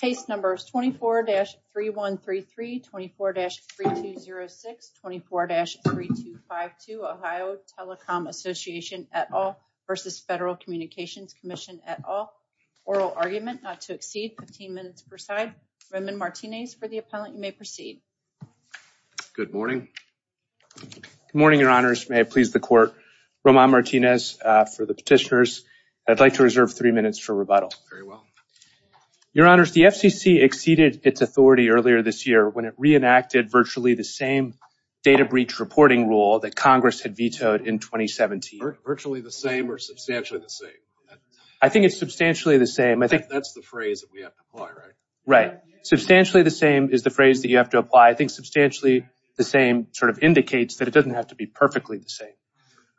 Case numbers 24-3133, 24-3206, 24-3252, Ohio Telecom Association et al versus Federal Communications Commission et al. Oral argument not to exceed 15 minutes per side. Roman Martinez for the appellant. You may proceed. Good morning. Good morning, Your Honors. May it please the court. Roman Martinez for the petitioners. I'd like to reserve three minutes for rebuttal. Very well. Your Honors, the FCC exceeded its authority earlier this year when it reenacted virtually the same data breach reporting rule that Congress had vetoed in 2017. Virtually the same or substantially the same? I think it's substantially the same. I think that's the phrase that we have to apply, right? Right. Substantially the same is the phrase that you have to apply. I think substantially the same sort of indicates that it doesn't have to be perfectly the same.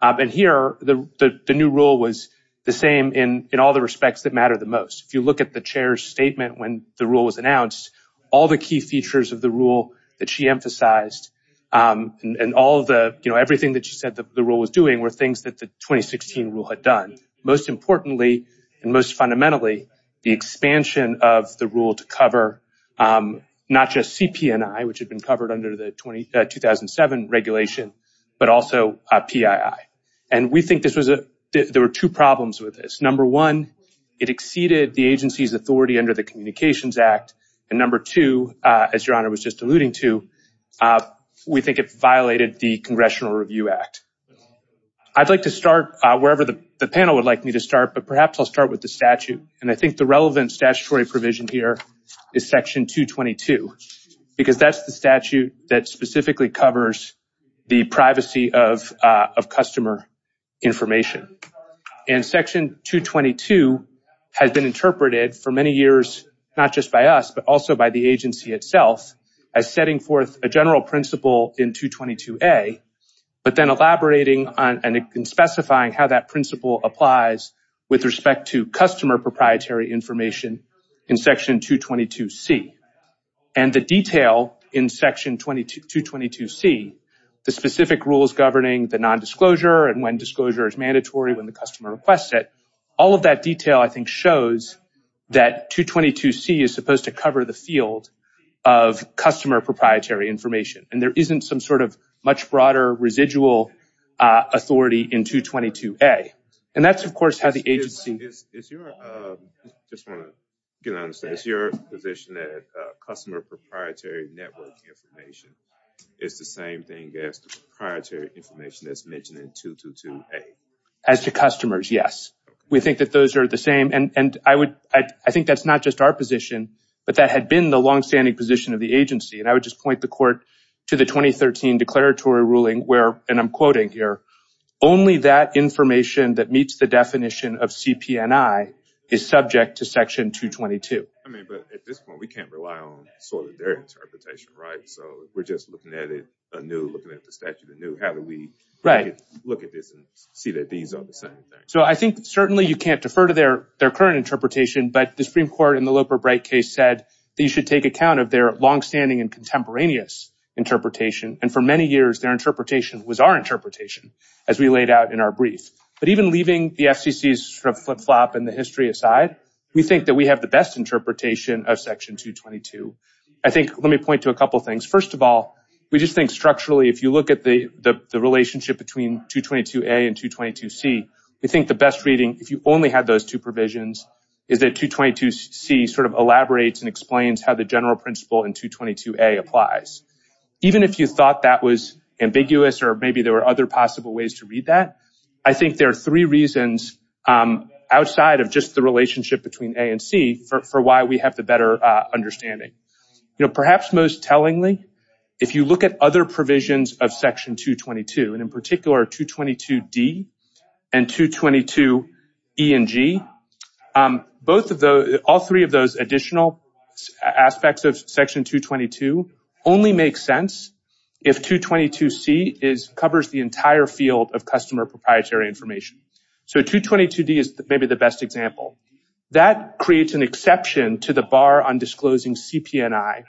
And here, the new rule was the same in all the respects that matter the most. If you look at the chair's statement when the rule was announced, all the key features of the rule that she emphasized and everything that she said the rule was doing were things that the 2016 rule had done. Most importantly and most fundamentally, the expansion of the rule to cover not just CP&I, which had been covered under the 2007 regulation, but also PII. And we think there were two problems with this. Number one, it exceeded the agency's authority under the Communications Act. And number two, as Your Honor was just alluding to, we think it violated the Congressional Review Act. I'd like to start wherever the panel would like me to start, but perhaps I'll start with statute. And I think the relevant statutory provision here is section 222, because that's the statute that specifically covers the privacy of customer information. And section 222 has been interpreted for many years, not just by us, but also by the agency itself as setting forth a general principle in 222A, but then elaborating on and specifying how that principle applies with respect to customer proprietary information in section 222C. And the detail in section 222C, the specific rules governing the non-disclosure and when disclosure is mandatory, when the customer requests it, all of that detail I think shows that 222C is supposed to cover the field of customer proprietary information. And there isn't some sort of much broader residual authority in 222A. And that's of course how the agency... Is your position that customer proprietary network information is the same thing as the proprietary information that's mentioned in 222A? As to customers, yes. We think that those are the same. And I think that's not just our position, but that had been the longstanding position of the agency. And I would just point the court to the 2013 declaratory ruling where, and I'm quoting here, only that information that meets the definition of CP&I is subject to section 222. I mean, but at this point we can't rely on sort of their interpretation, right? So we're just looking at it anew, looking at the statute anew. How do we look at this and see that these are the same thing? So I think certainly you can't defer to their current interpretation, but the Supreme Court in the Loper-Bright case said that you should take account of their longstanding and contemporaneous interpretation. And for many years, their interpretation was our interpretation as we laid out in our brief. But even leaving the FCC's sort of flip-flop and the history aside, we think that we have the best interpretation of section 222. I think, let me point to a couple of things. First of all, we just think structurally, if you look at the relationship between 222A and 222C, we think the best reading, if you only had those two provisions, is that 222C sort of elaborates and explains how the general principle in 222A applies. Even if you thought that was ambiguous or maybe there were other possible ways to read that, I think there are three reasons outside of just the relationship between A and C for why we have the better understanding. Perhaps most tellingly, if you at other provisions of section 222, and in particular 222D and 222E and G, all three of those additional aspects of section 222 only make sense if 222C covers the entire field of customer proprietary information. So 222D is maybe the best example. That creates an exception to the bar on disclosing CP&I,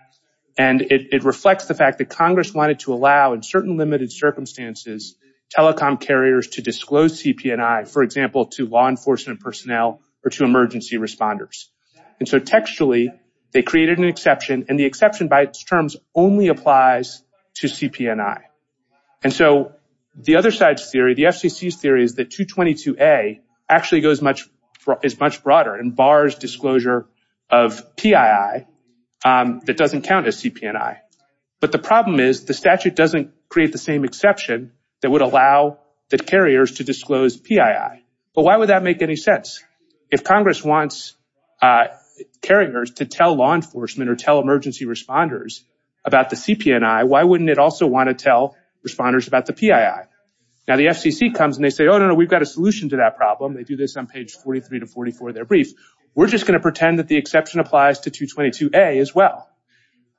and it reflects the fact that Congress wanted to allow, in certain limited circumstances, telecom carriers to disclose CP&I, for example, to law enforcement personnel or to emergency responders. And so textually, they created an exception, and the exception by its terms only applies to CP&I. And so the other side's theory, the FCC's theory, is that 222A actually is much broader and bars disclosure of PII that doesn't count as CP&I. But the problem is the statute doesn't create the same exception that would allow the carriers to disclose PII. But why would that make any sense? If Congress wants carriers to tell law enforcement or tell emergency responders about the CP&I, why wouldn't it also want to tell responders about the PII? Now the FCC comes and they say, oh, no, no, we've got a solution to that problem. They do this on page 43 to 44 of their brief. We're just going to pretend that the exception applies to 222A as well.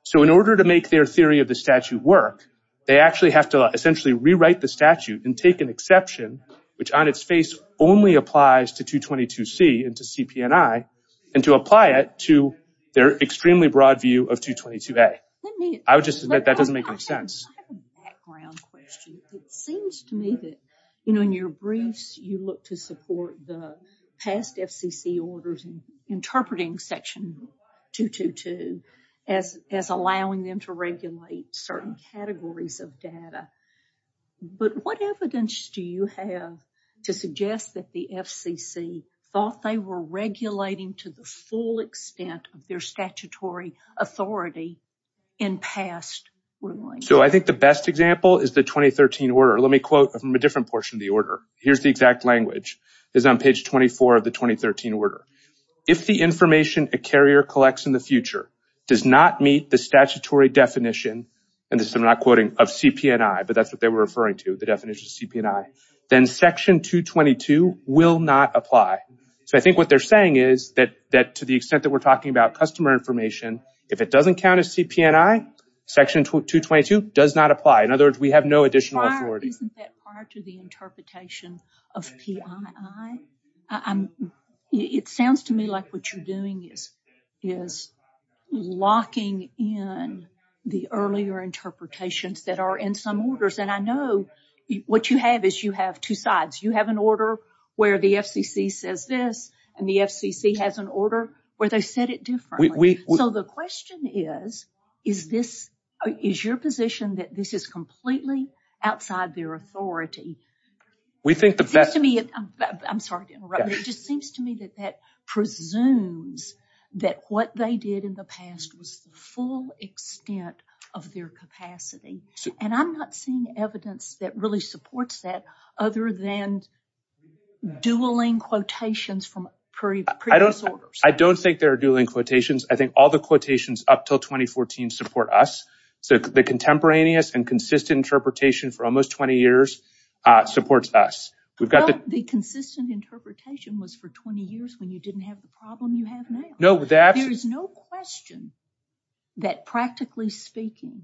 So in order to make their theory of the statute work, they actually have to essentially rewrite the statute and take an exception, which on its face only applies to 222C and to CP&I, and to apply it to their extremely broad view of 222A. I would just admit that doesn't make any sense. I have a background question. It seems to me that, you know, in your briefs, you look to support the past FCC orders and interpreting section 222 as allowing them to regulate certain categories of data. But what evidence do you have to suggest that the FCC thought they were regulating to the full extent of their statutory authority in past rulings? So I think the best example is the 2013 order. Let me quote from a different portion of the order. Here's the exact language. It's on page 24 of the 2013 order. If the information a carrier collects in the future does not meet the statutory definition, and this I'm not quoting, of CP&I, but that's what they were referring to, the definition of CP&I, then section 222 will not apply. So I think what they're saying is that to the extent that we're if it doesn't count as CP&I, section 222 does not apply. In other words, we have no additional authority. Isn't that prior to the interpretation of PII? It sounds to me like what you're doing is locking in the earlier interpretations that are in some orders. And I know what you have is you have two sides. You have an order where the FCC says this, and the FCC has an order where they said it differently. So the question is, is this, is your position that this is completely outside their authority? I'm sorry to interrupt, but it just seems to me that that presumes that what they did in the past was the full extent of their capacity. And I'm not seeing evidence that really supports that other than dueling quotations from previous orders. I don't think there are dueling quotations. I think all the quotations up till 2014 support us. So the contemporaneous and consistent interpretation for almost 20 years supports us. Well, the consistent interpretation was for 20 years when you didn't have the problem you have now. There is no question that practically speaking,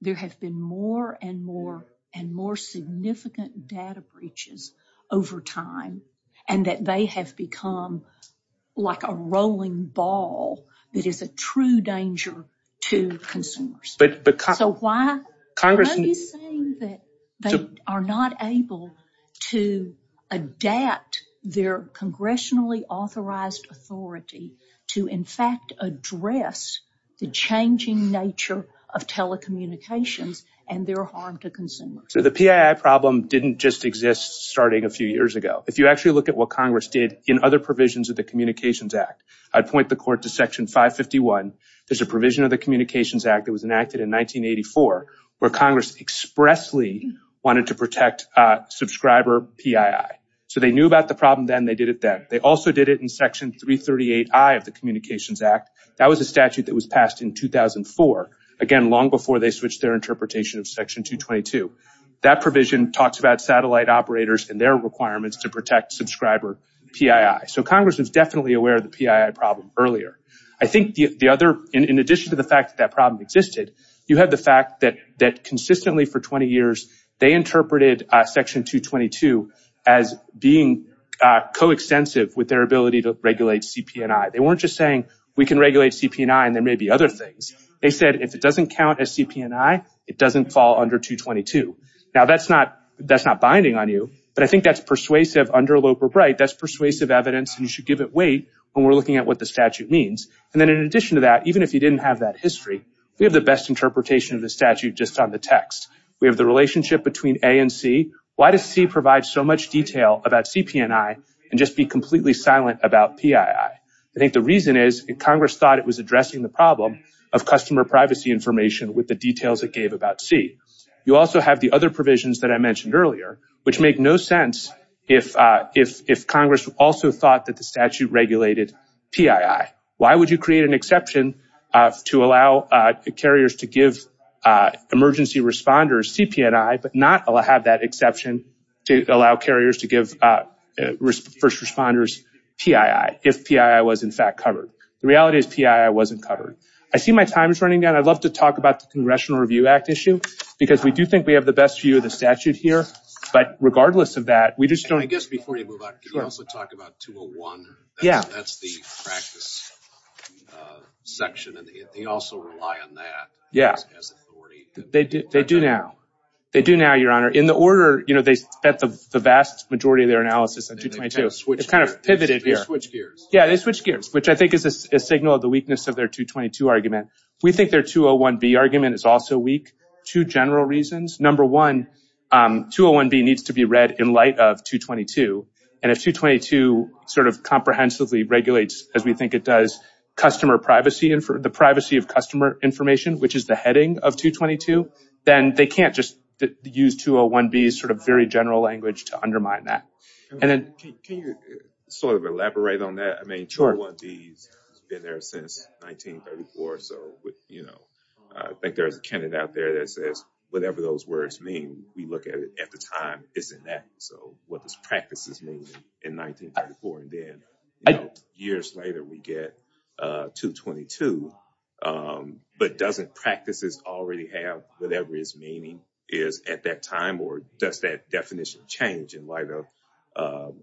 there have been more and more and more significant data breaches over time and that they have become like a rolling ball that is a true danger to consumers. So why are you saying that they are not able to adapt their congressionally authorized authority to in fact address the changing nature of telecommunications and their harm to consumers? So the PII problem didn't just exist starting a few years ago. If you actually look at what Congress did in other provisions of the Communications Act, I'd point the court to Section 551. There's a provision of the Communications Act that was enacted in 1984 where Congress expressly wanted to protect subscriber PII. So they knew about the problem then, they did it then. They also did it in Section 338I of the Communications Act. That was a statute that was passed in 2004. Again, long before they switched their interpretation of Section 222. That provision talks about satellite operators and their requirements to protect subscriber PII. So Congress was definitely aware of the PII problem earlier. I think the other, in addition to the fact that that problem existed, you have the fact that consistently for 20 years, they interpreted Section 222 as being co-extensive with their ability to regulate CP&I. They weren't just saying we can regulate CP&I and there may be other things. They said if it doesn't count as CP&I, it doesn't fall under 222. Now that's not binding on you, but I think that's persuasive under Loeb or Bright. That's persuasive evidence and you should give it weight when we're looking at what the statute means. And then in addition to that, even if you didn't have that history, we have the best interpretation of the statute just on the text. We have the relationship between A and C. Why does C provide so much detail about CP&I and just be completely silent about PII? I think the reason is Congress thought it was addressing the problem of customer privacy information with the details it gave about C. You also have the other provisions that I mentioned earlier, which make no sense if Congress also thought that the statute regulated PII. Why would you create an exception to allow carriers to give emergency responders CP&I but not have that exception to allow carriers to give first responders PII if PII was in fact covered? The reality is PII wasn't covered. I see my time is running down. I'd love to talk about the Congressional Review Act issue because we do think we have the best view of the statute here, but regardless of that, we just don't... I guess before you move on, can you also talk about 201? Yeah. That's the practice section and they also rely on that as authority. They do now. They do now, Your Honor. In the order, you know, they spent the vast majority of their analysis on 222. It's kind of pivoted here. They switched gears. Yeah, they switched gears, which I think is a signal of the weakness of their 222 argument. We think their 201B argument is also weak, two general reasons. Number one, 201B needs to be read in light of 222 and if 222 sort of comprehensively regulates, as we think it does, the privacy of customer information, which is the heading of 222, then they can't just use 201B's sort of very general language to undermine that. Can you sort of elaborate on that? I mean, 201B's been there since 1934, so, you know, I think there's a canon out there that says whatever those words mean, we look at it at the time it's enacted. So, what those practices mean in 1934 and then, you know, years later, we get 222, but doesn't practices already have whatever its meaning is at that time or does that definition change in light of,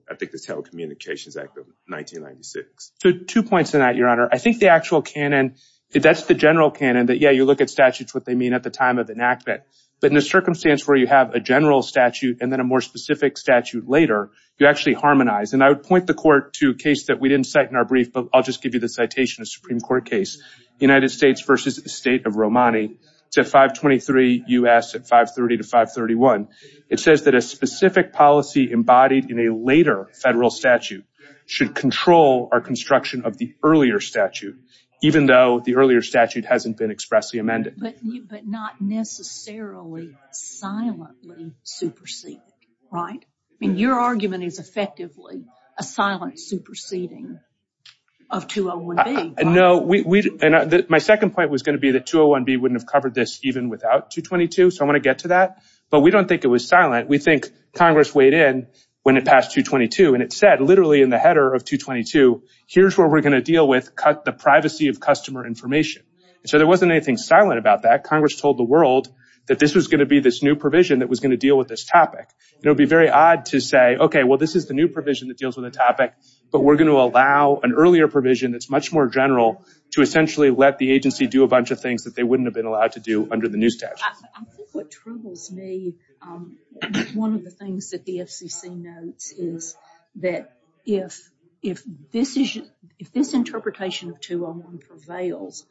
I think, the Telecommunications Act of 1996? So, two points on that, Your Honor. I think the actual canon that, yeah, you look at statutes what they mean at the time of enactment, but in a circumstance where you have a general statute and then a more specific statute later, you actually harmonize. And I would point the Court to a case that we didn't cite in our brief, but I'll just give you the citation of Supreme Court case, United States v. State of Romani. It's at 523 U.S. at 530 to 531. It says that a specific policy embodied in a later federal statute should control our construction of the earlier statute, even though the earlier statute hasn't been expressly amended. But not necessarily silently superseding, right? I mean, your argument is effectively a silent superseding of 201B. No, my second point was going to be that 201B wouldn't have covered this even without 222, so I want to get to that. But we don't think it was silent. We think in the header of 222, here's where we're going to deal with the privacy of customer information. So there wasn't anything silent about that. Congress told the world that this was going to be this new provision that was going to deal with this topic. It would be very odd to say, okay, well, this is the new provision that deals with the topic, but we're going to allow an earlier provision that's much more general to essentially let the agency do a bunch of things that they wouldn't have been allowed to do under the new statute. I think what troubles me, one of the things that the FCC notes is that if this interpretation of 201 prevails,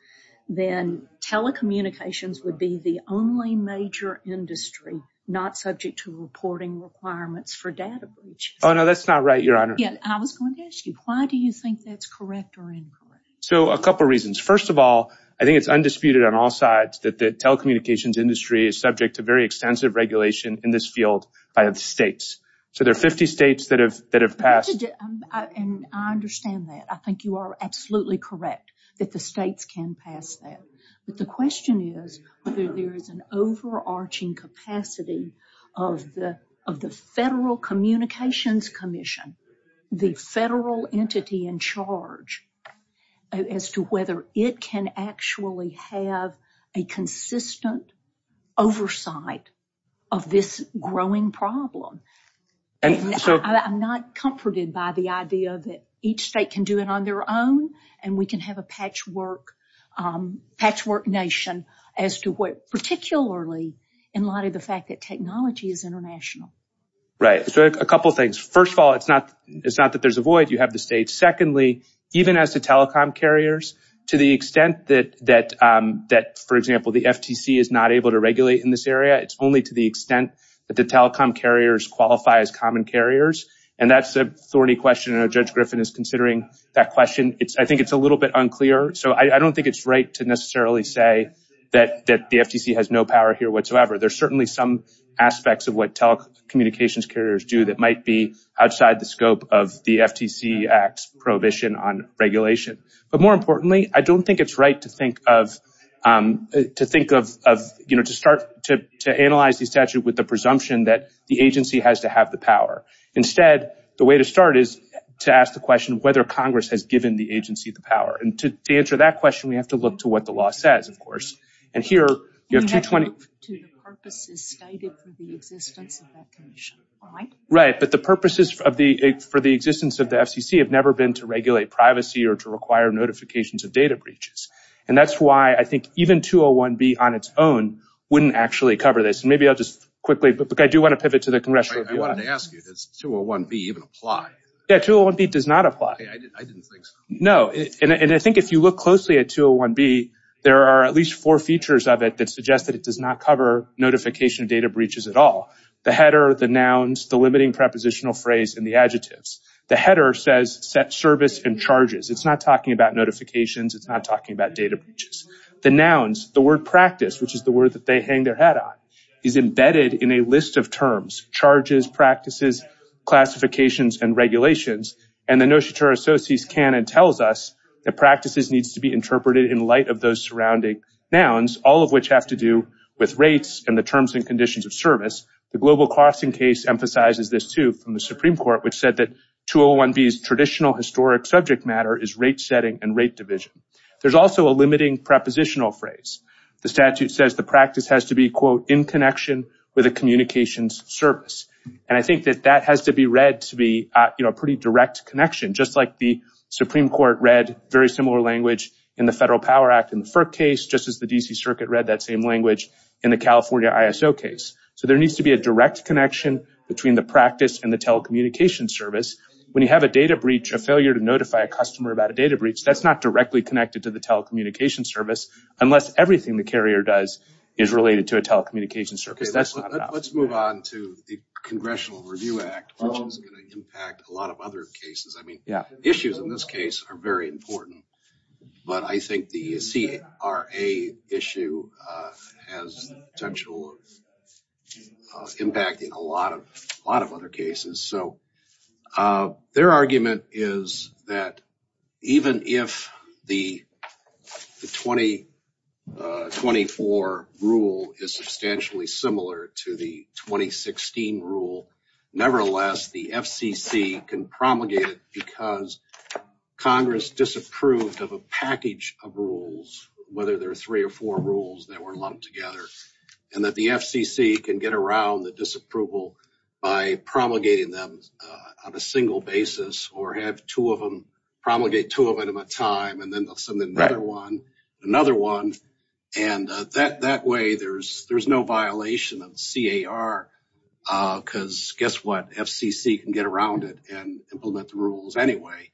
then telecommunications would be the only major industry not subject to reporting requirements for data breaches. Oh, no, that's not right, Your Honor. Yeah, I was going to ask you, why do you think that's correct or incorrect? So a couple reasons. First of all, I think it's undisputed on all sides that the telecommunications industry is subject to very extensive regulation in this field by the states. So there are 50 states that have passed. I understand that. I think you are absolutely correct that the states can pass that. But the question is whether there is an overarching capacity of the Federal Communications Commission, the federal entity in charge, as to whether it can actually have a consistent oversight of this growing problem. And so I'm not comforted by the idea that each state can do it on their own and we can have a patchwork nation as to what, particularly in light of the fact that technology is international. Right. So a couple of things. First of all, it's not that there's a void. You have the states. Secondly, even as to telecom carriers, to the extent that, for example, the FTC is not able to regulate in this area, it's only to the extent that the telecom carriers qualify as common carriers. And that's a thorny question. I know Judge Griffin is considering that question. I think it's a little bit unclear. So I don't think it's right to necessarily say that the FTC has no power here whatsoever. There's certainly some aspects of what telecommunications carriers do that might be outside the scope of the FTC Act's prohibition on regulation. But more importantly, I don't think it's right to think of, to think of, you know, to start to analyze the statute with the presumption that the agency has to have the power. Instead, the way to start is to ask the question of whether Congress has given the agency the power. And to answer that question, we have to look to what the law says, of course. And here, you have 220- We have to look to the purposes stated for the existence of that commission, right? Right. But the purposes of the, for the existence of the FCC have never been to regulate privacy or to require notifications of data breaches. And that's why I think even 201-B on its own wouldn't actually cover this. And maybe I'll just quickly, but I do want to pivot to the congressional- I wanted to ask you, does 201-B even apply? Yeah, 201-B does not apply. I didn't think so. No. And I think if you look closely at 201-B, there are at least four features of it that suggest that it does not cover notification of data breaches at all. The header, the nouns, the limiting prepositional phrase, and the adjectives. The header says set service and charges. It's not talking about notifications. It's not talking about data breaches. The nouns, the word practice, which is the word that they hang their hat on, is embedded in a list of terms, charges, practices, classifications, and regulations. And the Notice to Our Associates canon tells us that practices needs to be interpreted in light of those surrounding nouns, all of which have to do with rates and the terms and conditions of service. The Global Crossing case emphasizes this too from the Supreme Court, which said that 201-B's traditional historic subject matter is rate setting and rate division. There's also a limiting prepositional phrase. The statute says the practice has to be, quote, in connection with a communications service. And I think that that has to be read to be a pretty direct connection, just like the Supreme Court read very similar language in the Federal Power Act in the FERC case, just as the D.C. Circuit read that same language in the California ISO case. So there needs to be a direct connection between the practice and the telecommunication service. When you have a data breach, a failure to notify a customer about a data breach, that's not directly connected to the telecommunication service unless everything the carrier does is related to a telecommunication service. That's not enough. Let's move on to the Congressional Review Act, which is going to impact a lot of other cases. Issues in this case are very important, but I think the CRA issue has the potential of impacting a lot of other cases. Their argument is that even if the 2024 rule is substantially similar to the 2016 rule, nevertheless, the FCC can promulgate it because Congress disapproved of a package of rules, whether there are three or four rules that were lumped together, and that the FCC can get around the disapproval by promulgating them on a single basis or have promulgate two of them at a time and then another one. That way, there's no violation of the CAR because guess what? FCC can get around it and implement the rules anyway.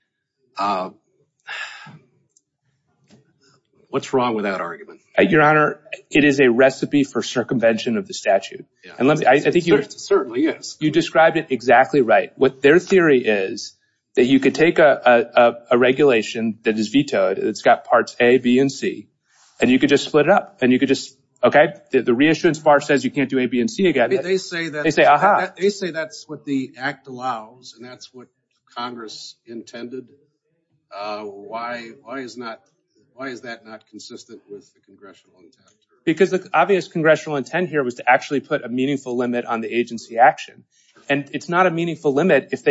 What's wrong with that argument? Your Honor, it is a recipe for circumvention of the statute. I think you described it exactly right. Their theory is that you could take a regulation that is vetoed, it's got parts A, B, and C, and you could just split it up. The reissuance bar says you can't do A, B, and C again. They say that's what the Act allows and that's what Congress intended. Why is that not consistent with the Congressional intent? Because the obvious intent here was to actually put a meaningful limit on the agency action. It's not a meaningful limit if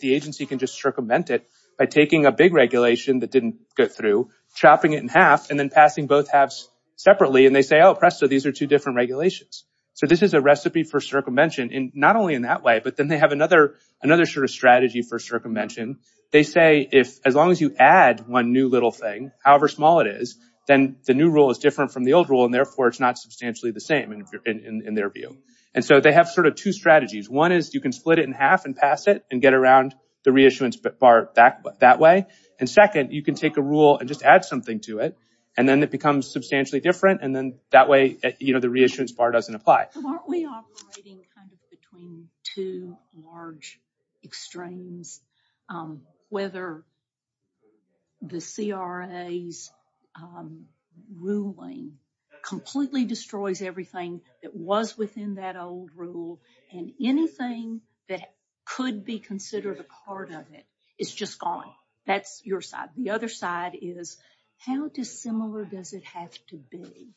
the agency can just circumvent it by taking a big regulation that didn't go through, chopping it in half, and then passing both halves separately. They say, oh, presto, these are two different regulations. This is a recipe for circumvention, not only in that way, but then they have another strategy for circumvention. They say, as long as you add one new little thing, however small it is, then the new rule is different from the old rule, therefore it's not substantially the same in their view. They have sort of two strategies. One is you can split it in half and pass it and get around the reissuance bar that way. Second, you can take a rule and just add something to it, and then it becomes substantially different, and then that way the reissuance bar doesn't apply. Aren't we operating between two large extremes? Whether the CRA's ruling completely destroys everything that was within that old rule, and anything that could be considered a part of it is just gone. That's your side. The other side is how dissimilar does it have to be,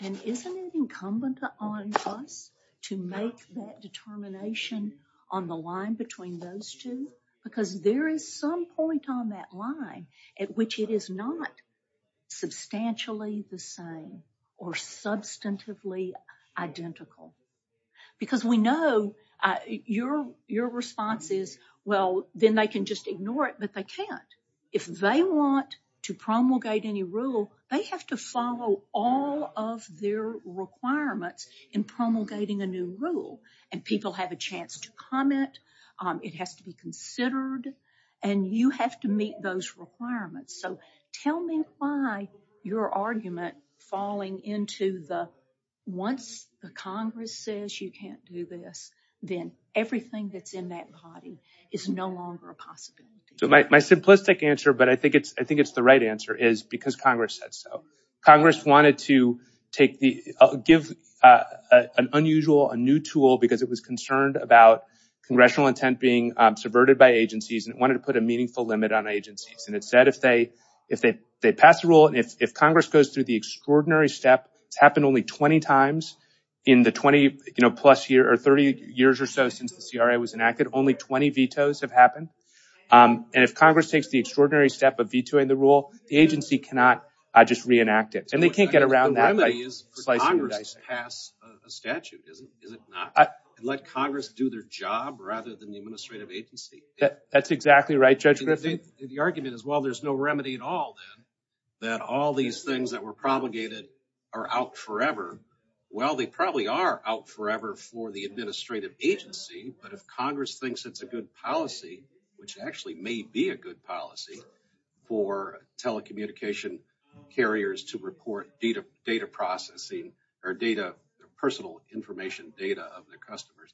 and isn't it incumbent on us to make that determination on the line between those two? Because there is some point on that line at which it is not substantially the same or substantively identical. Because we know your response is, well, then they can just ignore it, but they can't. If they want to promulgate any rule, they have to follow all of their requirements in promulgating a new rule, and people have a chance to comment. It has to be considered, and you have to meet those requirements. So, tell me why your argument falling into the, once the Congress says you can't do this, then everything that's in that body is no longer a possibility. My simplistic answer, but I think it's the right answer, is because Congress said so. Congress wanted to give an unusual, a new tool, because it was concerned about congressional intent being subverted by agencies, and it wanted to put a meaningful limit on agencies. It said if they pass a rule, and if Congress goes through the extraordinary step, it's happened only 20 times in the 30 years or so since the CRA was enacted, only 20 vetoes have happened. If Congress takes the extraordinary step of vetoing the rule, the agency cannot just reenact it, and they can't get around that by slicing and dicing. The remedy is for Congress to pass a statute, is it not? Let Congress do their job rather than the administrative agency. That's exactly right, Judge Griffin. The argument is, well, there's no remedy at all, then, that all these things that were promulgated are out forever. Well, they probably are out forever for the administrative agency, but if Congress thinks it's a good policy, which actually may be a good policy for telecommunication carriers to report data processing or personal information data of their customers,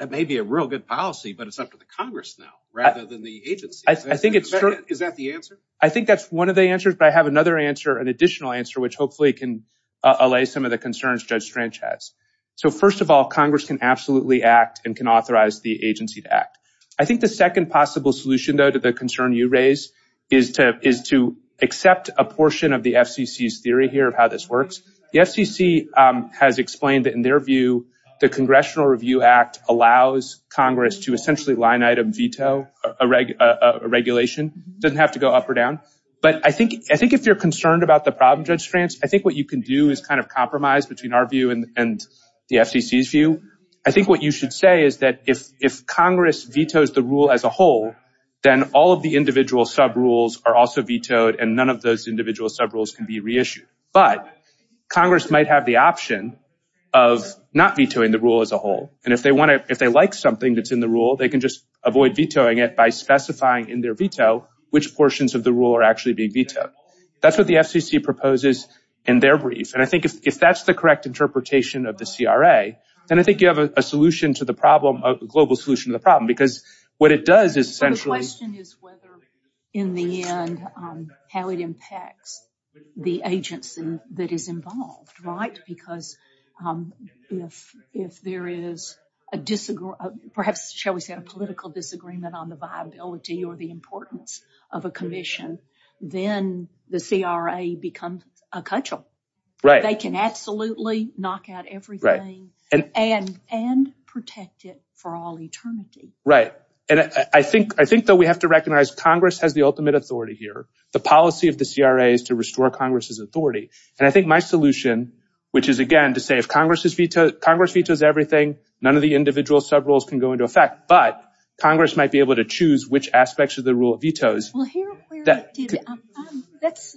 that may be a real good policy, but it's up to the Congress now rather than the agency. Is that the answer? I think that's one of the answers, but I have another answer, an additional answer, which hopefully can allay some of the concerns Judge Stranch has. So, first of all, Congress can absolutely act and can authorize the agency to act. I think the second possible solution, though, to the concern you raise is to accept a portion of the FCC's theory here of how this works. The FCC has explained that, in their view, the Congressional Review Act allows Congress to essentially line-item veto a regulation. It doesn't have to go up or down, but I think if you're concerned about the problem, Judge Stranch, I think what you can do is kind of compromise between our view and the FCC's view. I think what you should say is that if Congress vetoes the rule as a whole, then all of the individual sub-rules are also vetoed and none of those individual sub-rules can be reissued. But Congress might have the option of not vetoing the rule as a whole, and if they like something that's in the rule, they can just avoid vetoing it by specifying in their veto which portions of the rule are being vetoed. That's what the FCC proposes in their brief, and I think if that's the correct interpretation of the CRA, then I think you have a solution to the problem, a global solution to the problem, because what it does is essentially... The question is whether, in the end, how it impacts the agency that is involved, right? Because if there is a disagreement, perhaps, shall we say, a political disagreement on the viability or the importance of a commission, then the CRA becomes a cudgel. They can absolutely knock out everything and protect it for all eternity. Right, and I think that we have to recognize Congress has the ultimate authority here. The policy of the CRA is to restore Congress's authority, and I think my solution, which is, again, to say if Congress vetoes everything, none of the individual sub-rules can go into effect, but Congress might be able to choose which aspects of the rule it vetoes. Well, that's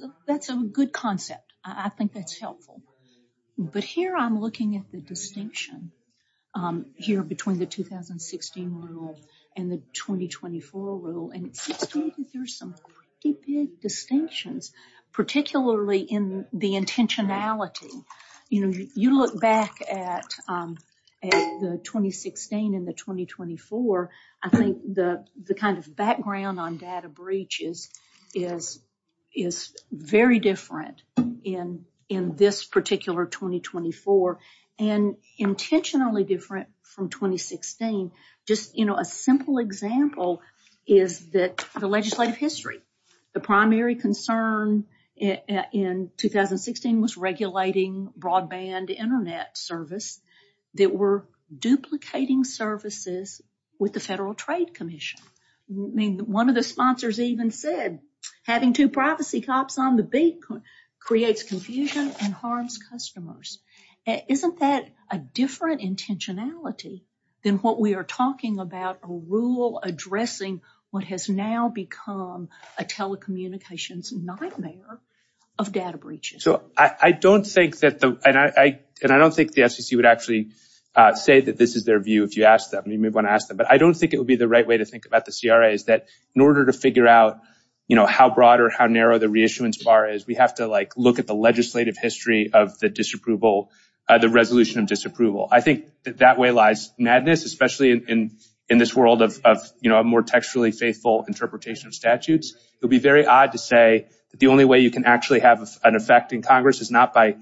a good concept. I think that's helpful, but here I'm looking at the distinction here between the 2016 rule and the 2024 rule, and there's some pretty big distinctions, particularly in the intentionality. You know, you look back at the 2016 and the 2024, I think the kind of background on data breaches is very different in this particular 2024, and intentionally different from 2016. Just, you know, a simple example is that the legislative history. The primary concern in 2016 was regulating broadband internet service. They were duplicating services with the Federal Trade Commission. I mean, one of the sponsors even said having two privacy cops on the beat creates confusion and harms customers. Isn't that a different intentionality than what we are talking about, a rule addressing what has now become a telecommunications nightmare of data breaches? So, I don't think that the, and I don't think the FCC would actually say that this is their view if you asked them, you may want to ask them, but I don't think it would be the right way to think about the CRAs that in order to figure out, you know, how broad or how narrow the reissuance bar is, we have to like look at the legislative history of the disapproval, the resolution of disapproval. I think that that way lies madness, especially in this world of, you know, a more textually faithful interpretation of statutes. It would be very odd to say that the only way you can actually have an effect in Congress is not by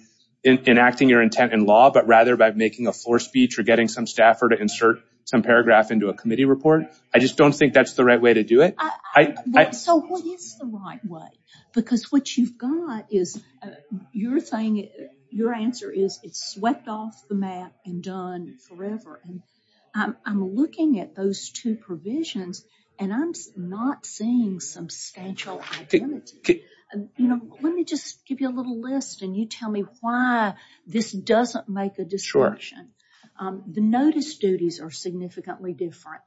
enacting your intent in law, but rather by making a floor speech or getting some staffer to insert some paragraph into a committee report. I just don't think that's the right way to do it. So, what is the right way? Because what you've got is, you're saying, your answer is, it's swept off the map and done forever. And I'm looking at those two provisions and I'm not seeing substantial identity. You know, let me just give you a little list and you tell me why this doesn't make a distinction. The notice duties are significantly different.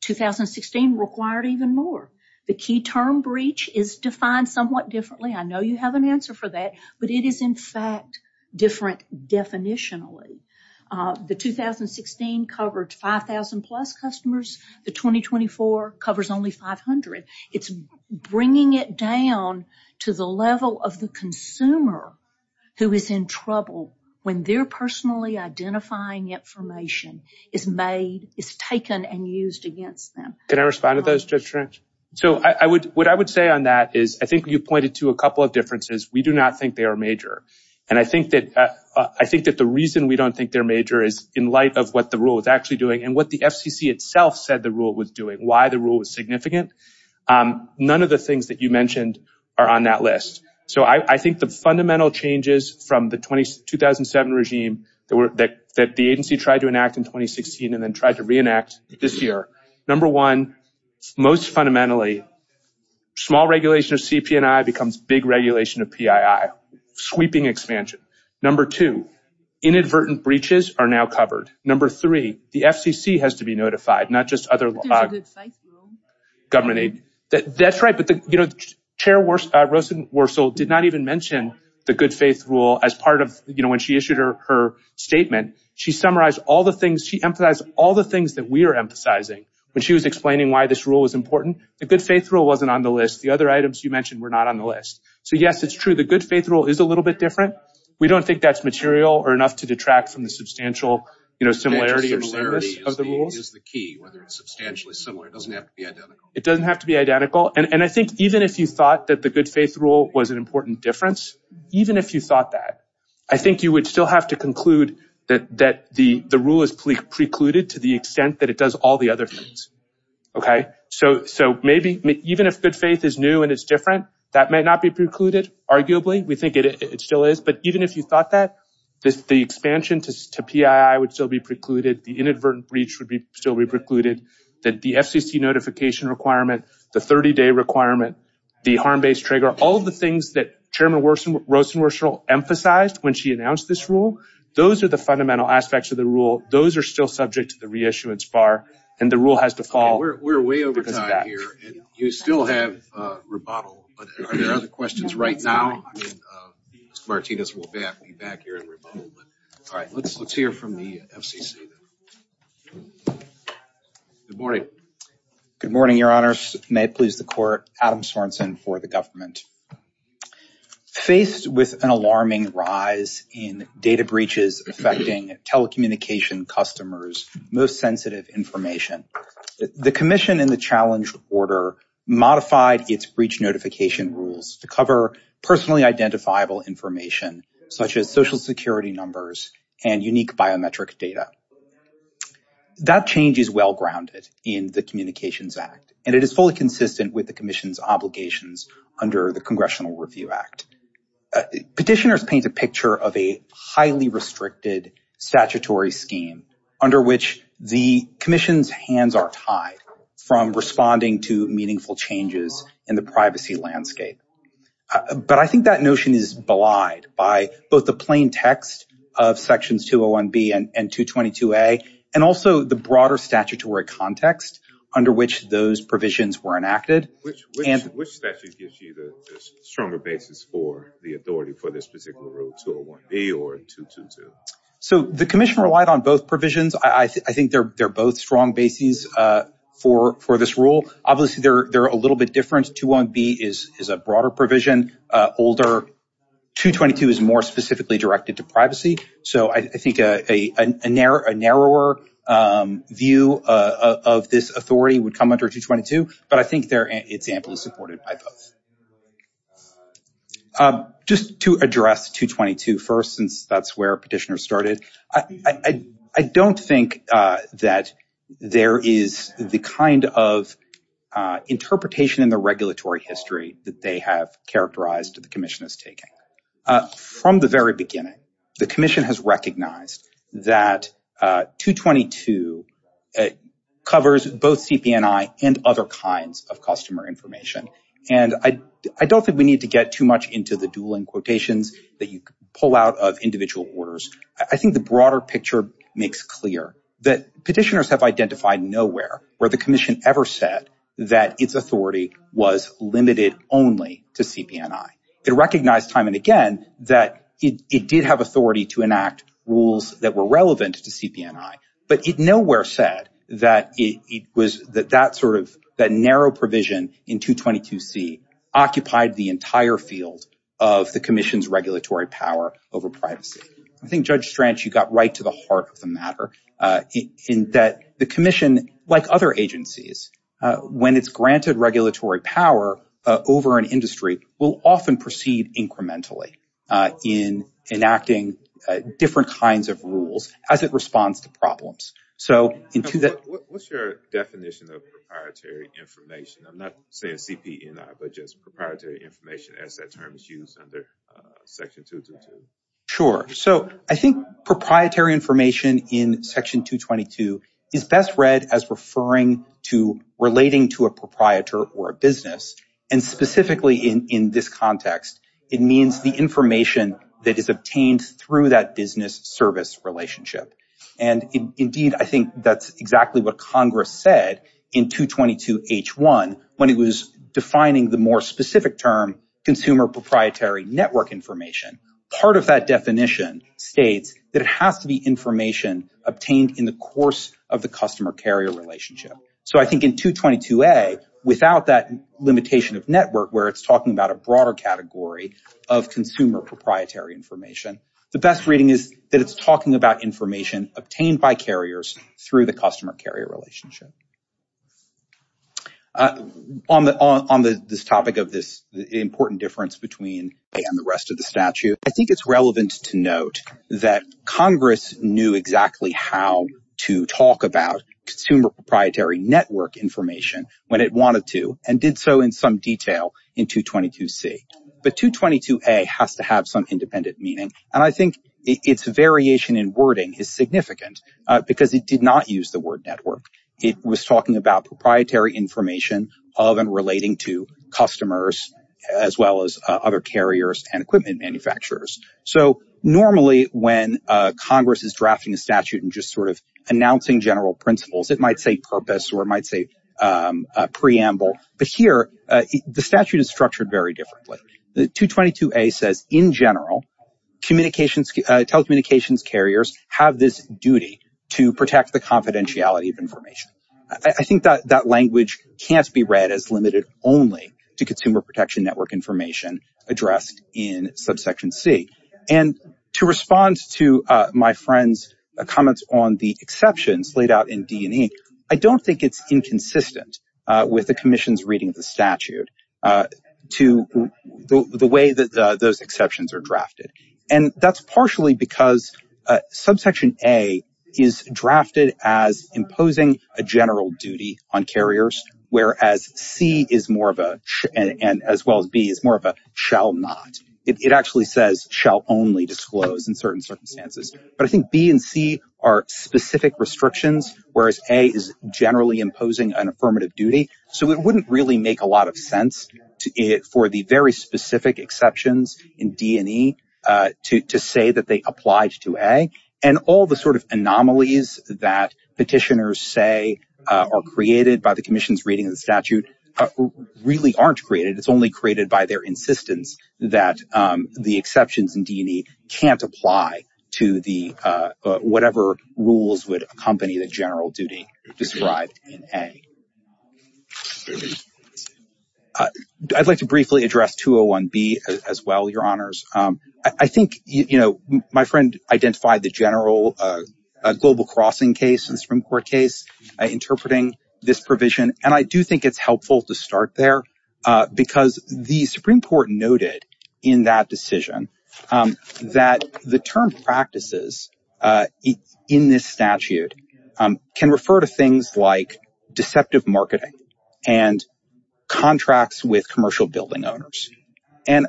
2016 required even more. The key term breach is defined somewhat differently. I know you have an answer for that, but it is in fact different definitionally. The 2016 covered 5,000 plus customers. The 2024 covers only 500. It's bringing it down to the level of the consumer who is in trouble when their personally identifying information is made, is taken and used against them. Can I respond to those, Judge Trench? So, what I would say on that is, I think you pointed to a couple of differences. We do not think they are major. And I think that the reason we don't think they're major is in light of what the rule is actually doing and what the FCC itself said the rule was doing, why the rule was significant. None of the things that you mentioned are on that list. So, I think the fundamental changes from the 2007 regime that the agency tried to enact in 2016 and then tried to reenact this year. Number one, most fundamentally, small regulation of CP&I becomes big regulation of PII. Sweeping expansion. Number two, inadvertent breaches are now covered. Number three, the FCC has to be notified, not just other... There's a good faith rule. That's right, but Chair Rosenworcel did not even mention the good faith rule as part of, you know, when she issued her statement. She summarized all the things, she emphasized all the things that we are emphasizing when she was explaining why this rule was important. The good faith rule wasn't on the list. The other items you mentioned were not on the list. So, yes, it's true. The good faith rule is a little bit different. We don't think that's material or enough to detract from the substantial, you know, similarity of the rules. Is the key, whether it's substantially similar. It doesn't have to be identical. It doesn't have to be identical. And I think even if you thought that the good faith rule was an important difference, even if you thought that, I think you would still have to conclude that the rule is precluded to the extent that it does all the other things. Okay, so maybe even if good faith is new and it's different, that may not be precluded, arguably. We think it still is. But even if you thought that, the expansion to PII would still be precluded. The inadvertent breach would still be precluded. The FCC notification requirement, the 30-day requirement, the harm-based trigger, all of the things that Chairman Rosenworcel emphasized when she announced this rule, those are the fundamental aspects of the rule. Those are still subject to the reissuance bar, and the rule has to fall because of that. Okay, we're way over time here, and you still have rebuttal. But are there other questions right now? I mean, Mr. Martinez will be back here in rebuttal. But all right, let's hear from the FCC. Good morning. Good morning, Your Honor. May it please the Court. Adam Sorensen for the government. Faced with an alarming rise in data breaches affecting telecommunication customers, most sensitive information, the commission in the challenge order modified its breach notification rules to cover personally identifiable information such as social security numbers and unique biometric data. That change is well-grounded in the Communications Act, and it is fully consistent with the commission's obligations under the Congressional Review Act. Petitioners paint a picture of a highly restricted statutory scheme under which the commission's hands are tied from responding to meaningful changes in the privacy landscape. But I think that notion is belied by both the plain text of Sections 201B and 222A, and also the broader statutory context under which those provisions were enacted. Which statute gives you the stronger basis for the authority for this particular rule, 201B or 222? So the commission relied on both provisions. I think they're both strong bases for this rule. Obviously, they're a little bit different. 201B is a broader provision. 222 is more specifically directed to privacy. So I think a narrower view of this authority would come under 222, but I think it's amply supported by both. Just to address 222 first, since that's where petitioners started, I don't think that there is the kind of interpretation in the regulatory history that they have characterized that the commission is taking. From the very beginning, the commission has recognized that 222 covers both CP&I and other kinds of customer information. And I don't think we need to get too much into the dueling quotations that you pull out of individual orders. I think the broader picture makes clear that petitioners have identified nowhere where the commission ever said that its authority was limited only to CP&I. It recognized time and again that it did have authority to enact rules that were relevant to CP&I, but it nowhere said that it was that that sort of that narrow provision in 222C occupied the entire field of the commission's regulatory power over privacy. I think, Judge Stranch, you got right to the heart of the matter in that the commission, like other agencies, when it's granted regulatory power over an industry, will often proceed incrementally in enacting different kinds of rules as it responds to problems. What's your definition of proprietary information? I'm not saying CP&I, but just proprietary information as that term is used under section 222. Sure. So I think proprietary information in section 222 is best read as referring to relating to a proprietor or a business. And specifically in this context, it means the information that is obtained through that business service relationship. And indeed, I think that's exactly what Congress said in 222H1 when it was defining the more specific term consumer proprietary network information. Part of that definition states that it has to be information obtained in the course of the customer carrier relationship. So I think in 222A, without that limitation of network where it's talking about a broader category of consumer proprietary information, the best reading is that it's talking about information obtained by carriers through the relationship. On this topic of this important difference between and the rest of the statute, I think it's relevant to note that Congress knew exactly how to talk about consumer proprietary network information when it wanted to and did so in some detail in 222C. But 222A has to have some independent meaning. And I think its variation in wording is significant because it did not use the word network. It was talking about proprietary information of and relating to customers as well as other carriers and equipment manufacturers. So normally when Congress is drafting a statute and just sort of announcing general principles, it might say purpose or it might say preamble. But here, the statute is structured very differently. The 222A says in general, telecommunications carriers have this duty to protect the confidentiality of information. I think that language can't be read as limited only to consumer protection network information addressed in subsection C. And to respond to my friend's comments on the exceptions laid out in D&E, I don't think it's inconsistent with the commission's reading of the statute to the way those exceptions are drafted. And that's partially because subsection A is drafted as imposing a general duty on carriers, whereas C is more of a and as well as B is more of a shall not. It actually says shall only disclose in certain circumstances. But I think B and C are specific restrictions, whereas A is generally imposing an affirmative duty. So it wouldn't really make a lot of sense for the very specific exceptions in D&E to say that they applied to A. And all the sort of anomalies that petitioners say are created by the commission's reading of the statute really aren't created. It's only created by their insistence that the exceptions in D&E can't apply to whatever rules would accompany the general duty described in A. I'd like to briefly address 201B as well, Your Honors. I think, you know, my friend identified the general global crossing case in the Supreme Court case interpreting this provision. And I do think it's helpful to start there because the Supreme Court noted in that decision that the term practices in this statute can refer to things like deceptive marketing and contracts with commercial building owners. And,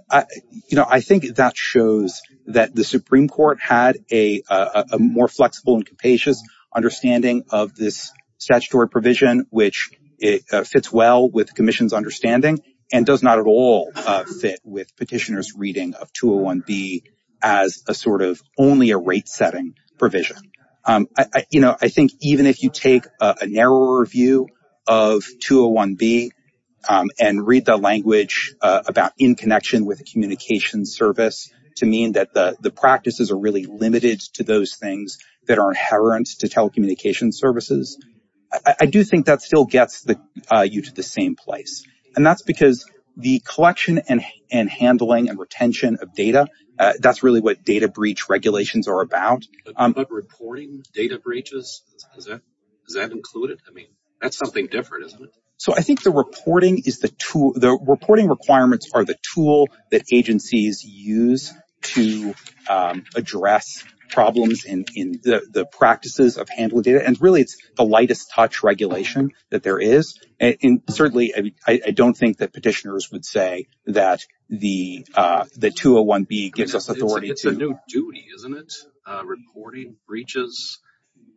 you know, I think that shows that the Supreme Court had a more flexible and capacious understanding of this statutory provision, which it fits well with the commission's understanding and does not at all fit with petitioners' reading of 201B as a sort of only a rate-setting provision. You know, I think even if you take a narrower view of 201B and read the language about in connection with a communications service to mean that the practices are really limited to those things that are inherent to telecommunications services, I do think that still gets you to the same place. And that's because the collection and handling and retention of data, that's really what data breach regulations are about. But reporting data breaches, is that included? I mean, that's something different, isn't it? So I think the reporting is the tool, the reporting requirements are the tool that agencies use to address problems in the practices of handling data. And really, it's the lightest touch regulation that there is. And certainly, I don't think that petitioners would say that the 201B gives us authority to... It's a new duty, isn't it? Reporting breaches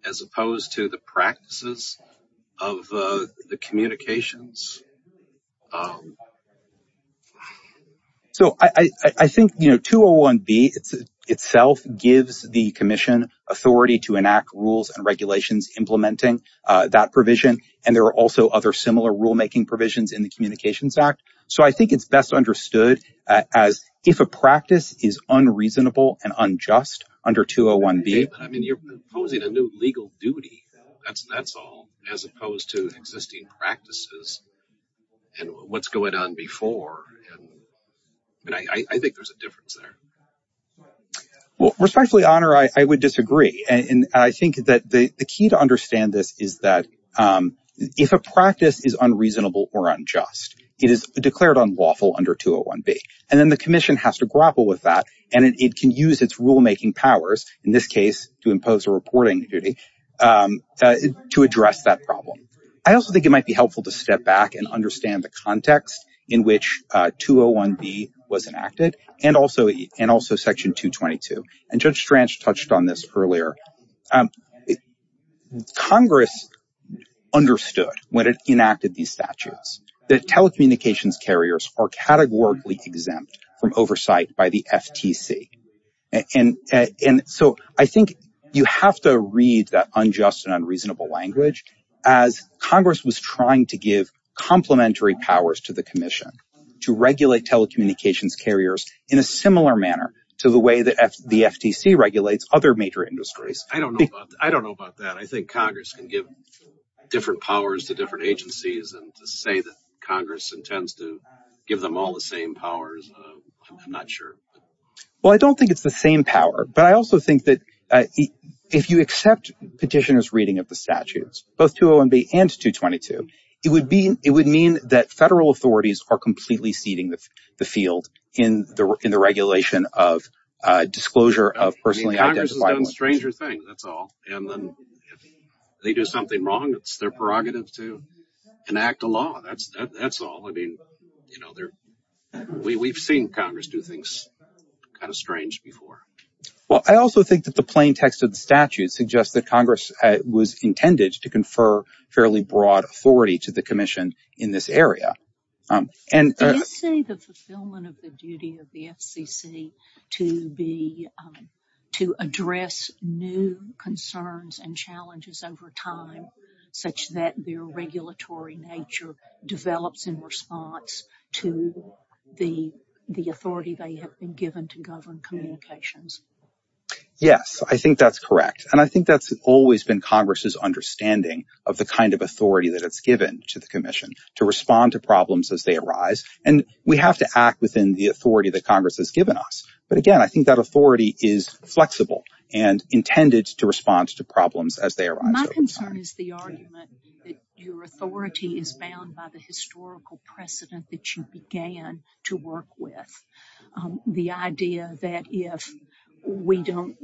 as opposed to the practices of the communications? So I think, you know, 201B itself gives the commission authority to enact rules and regulations implementing that provision. And there are also other similar rulemaking provisions in the Communications Act. So I think it's best understood as if a practice is unreasonable and unjust under 201B. I mean, you're imposing a new legal duty. That's all, as opposed to existing practices and what's going on before. And I think there's a difference there. Well, respectfully, Honor, I would disagree. And I think that the key to understand this is that if a practice is unreasonable or unjust, it is declared unlawful under 201B. And then the commission has to grapple with that. And it can use its rulemaking powers, in this case, to impose a reporting duty to address that problem. I also think it might be helpful to step back and understand the context in which 201B was enacted and also Section 222. And Judge Stranch touched on this earlier. Congress understood, when it enacted these statutes, that telecommunications carriers are categorically exempt from oversight by the FTC. And so I think you have to read that unjust and unreasonable language as Congress was trying to give complementary powers to the commission to regulate telecommunications carriers in a similar manner to the way that the FTC regulates other major industries. I don't know about that. I think Congress can give different powers to different agencies. And to say that Congress intends to give them all the same powers, I'm not sure. Well, I don't think it's the same power. But I also think that if you accept petitioners' reading of the statutes, both 201B and 222, it would mean that federal authorities are completely ceding the field in the regulation of disclosure of personally identified... Congress has done stranger things, that's all. And then if they do something wrong, it's their prerogative to enact a law. That's all. I mean, you know, we've seen Congress do things kind of strange before. Well, I also think that the plain text of the statute suggests that Congress was intended to confer fairly broad authority to the commission in this area. Do you see the fulfillment of the duty of the FCC to address new concerns and challenges over time such that their regulatory nature develops in response to the authority they have been given to govern communications? Yes, I think that's correct. And I think that's always been Congress's understanding of the kind of authority that it's given to the commission to respond to problems as they arise. And we have to act within the authority that Congress has given us. But again, I think that authority is flexible and intended to respond to problems as they arise. My concern is the argument that your authority is bound by the historical precedent that you began to work with. The idea that if we don't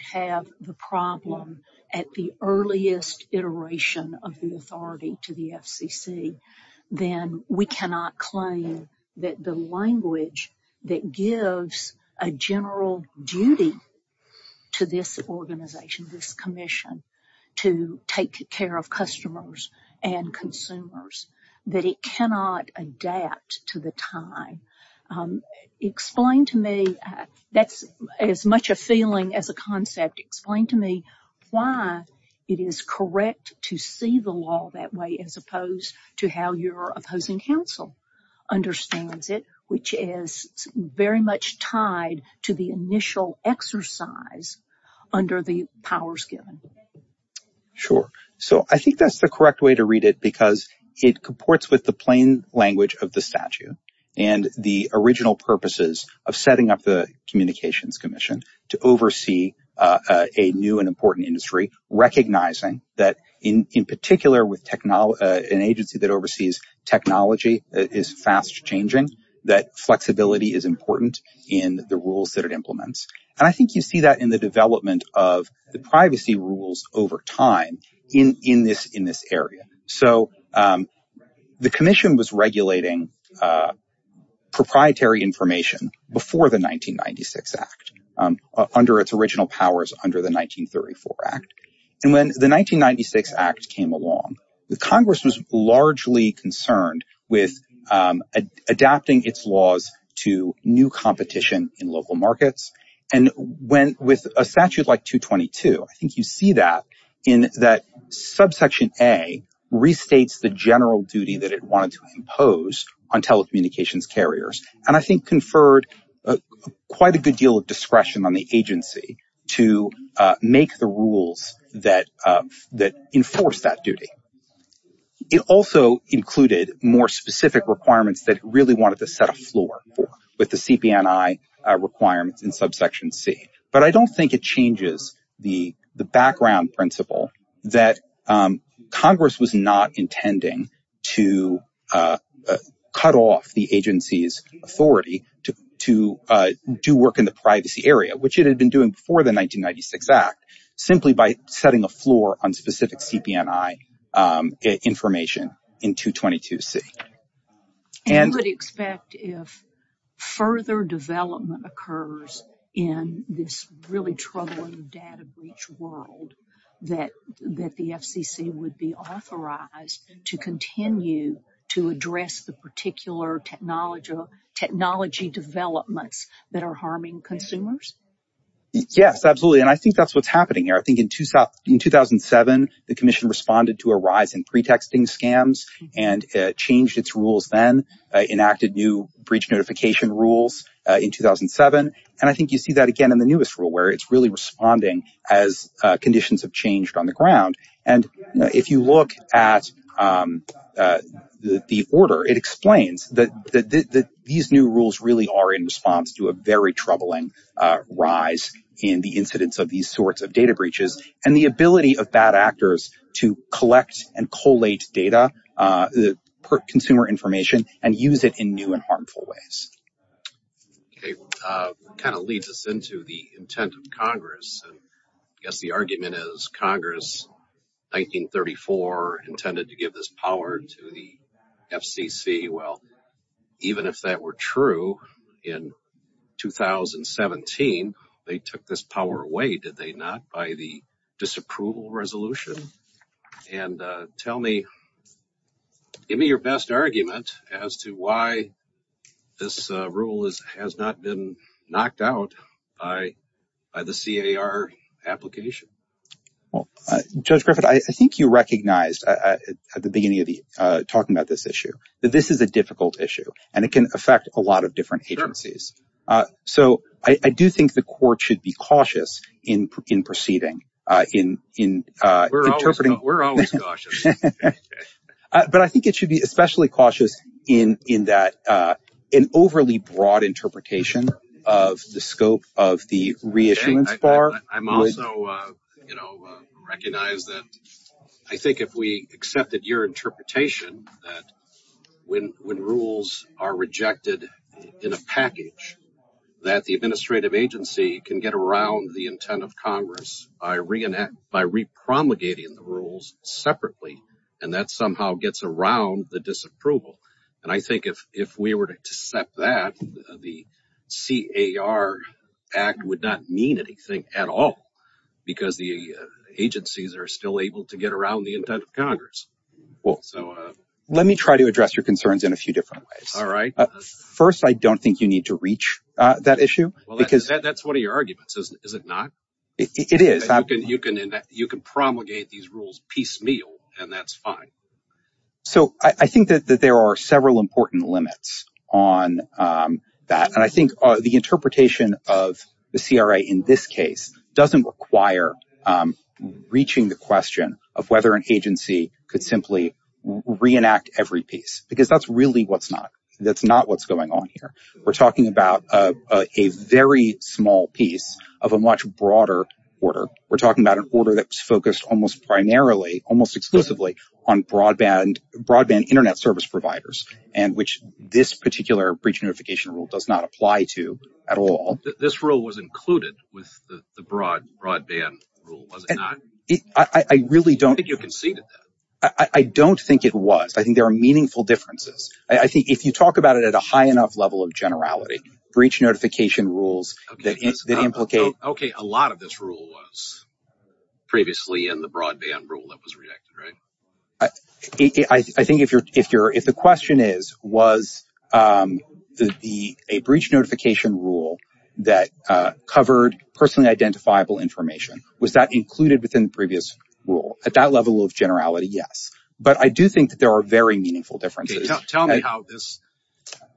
have the problem at the earliest iteration of the authority to the FCC, then we cannot claim that the language that gives a general duty to this organization, this commission, to take care of customers and consumers, that it cannot adapt to the time. Explain to me, that's as much a feeling as a concept, explain to me why it is correct to see the law that way as opposed to how your opposing counsel understands it, which is very much tied to the initial exercise under the powers given. Sure. So I think that's the correct way to read it because it comports with the plain language of the statute and the original purposes of setting up the communications commission to oversee a new and important industry, recognizing that in particular with an agency that oversees technology that is fast changing, that flexibility is important in the rules that it implements. And I think you see that in the development of the law. So the commission was regulating proprietary information before the 1996 Act, under its original powers under the 1934 Act. And when the 1996 Act came along, the Congress was largely concerned with adapting its laws to new competition in local markets. And with a statute like 222, I think you see that in that subsection A restates the general duty that it wanted to impose on telecommunications carriers. And I think conferred quite a good deal of discretion on the agency to make the rules that enforce that duty. It also included more specific requirements that it really wanted to set a floor for with the CPNI requirements in subsection C. But I don't think it changes the background principle that Congress was not intending to cut off the agency's authority to do work in the privacy area, which it had been doing before the 1996 Act, simply by setting a floor on specific CPNI information in 222C. And you would expect if further development occurs in this really troubling data breach world that the FCC would be authorized to continue to address the particular technology developments that are harming consumers? Yes, absolutely. And I think that's what's happening here. I think in 2007, the commission responded to a rise in pretexting scams and changed its rules then, enacted new breach notification rules in 2007. And I think you see that again in the newest rule, where it's really responding as conditions have changed on the ground. And if you look at the order, it explains that these new rules really are in response to a very troubling rise in the incidence of these sorts of data breaches and the ability of bad actors to collect and collate data, consumer information, and use it in new and harmful ways. Okay. Kind of leads us into the intent of Congress. I guess the argument is Congress, 1934, intended to give this power to the FCC. Well, even if that were true in 2017, they took this power away, did they not, by the disapproval resolution? And tell me, give me your best argument as to why this rule has not been knocked out by the CAR application. Well, Judge Griffith, I think you recognized at the beginning of the talking about this issue, that this is a difficult issue and it can affect a lot of different agencies. So I do think the court should be cautious in proceeding, in interpreting. We're always cautious. But I think it should be especially cautious in that an overly broad interpretation of the scope of the reissuance bar. I'm also, you know, recognize that I think if we accepted your interpretation, that when rules are rejected in a package, that the administrative agency can get around the intent of Congress by re-promulgating the rules separately. And that somehow gets around the disapproval. And I think if we were to accept that, the CAR Act would not mean anything at all, because the agencies are still able to get around the intent of Congress. So let me try to address your concerns in a few different ways. All right. First, I don't think you need to reach that issue. Well, that's one of your arguments, is it not? It is. You can promulgate these rules piecemeal and that's fine. So I think that there are several important limits on that. And I think the interpretation of the CRA in this case doesn't require reaching the question of whether an agency could simply reenact every piece, because that's really what's not. That's not what's going on here. We're talking about a very small piece of a much broader order. We're talking about an order that's focused almost primarily, almost exclusively, on broadband internet service providers, and which this particular breach notification rule does not apply to at all. This rule was included with the broadband rule, was it not? I really don't... I don't think you conceded that. I don't think it was. I think there are meaningful differences. I think if you talk about it at a high enough level of generality, breach notification rules that implicate... Okay, a lot of this rule was previously in the broadband rule that was rejected, right? I think if the question is, was a breach notification rule that covered personally identifiable information, was that included within the previous rule? At that level of generality, yes. But I do think that there are very meaningful differences. Tell me how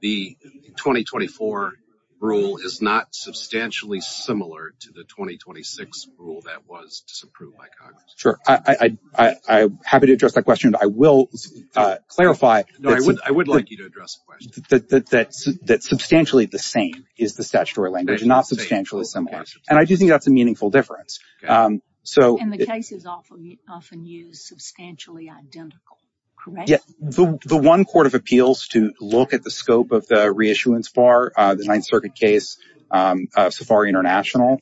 the 2024 rule is not substantially similar to the 2026 rule that was disapproved by Congress. Sure. I'm happy to address that question. I will clarify that substantially the same is the statutory language, not substantially similar. And I do think that's a meaningful difference. And the cases often use substantially identical, correct? The one court of appeals to look at the scope of the reissuance bar, the Ninth Circuit case, Safari International,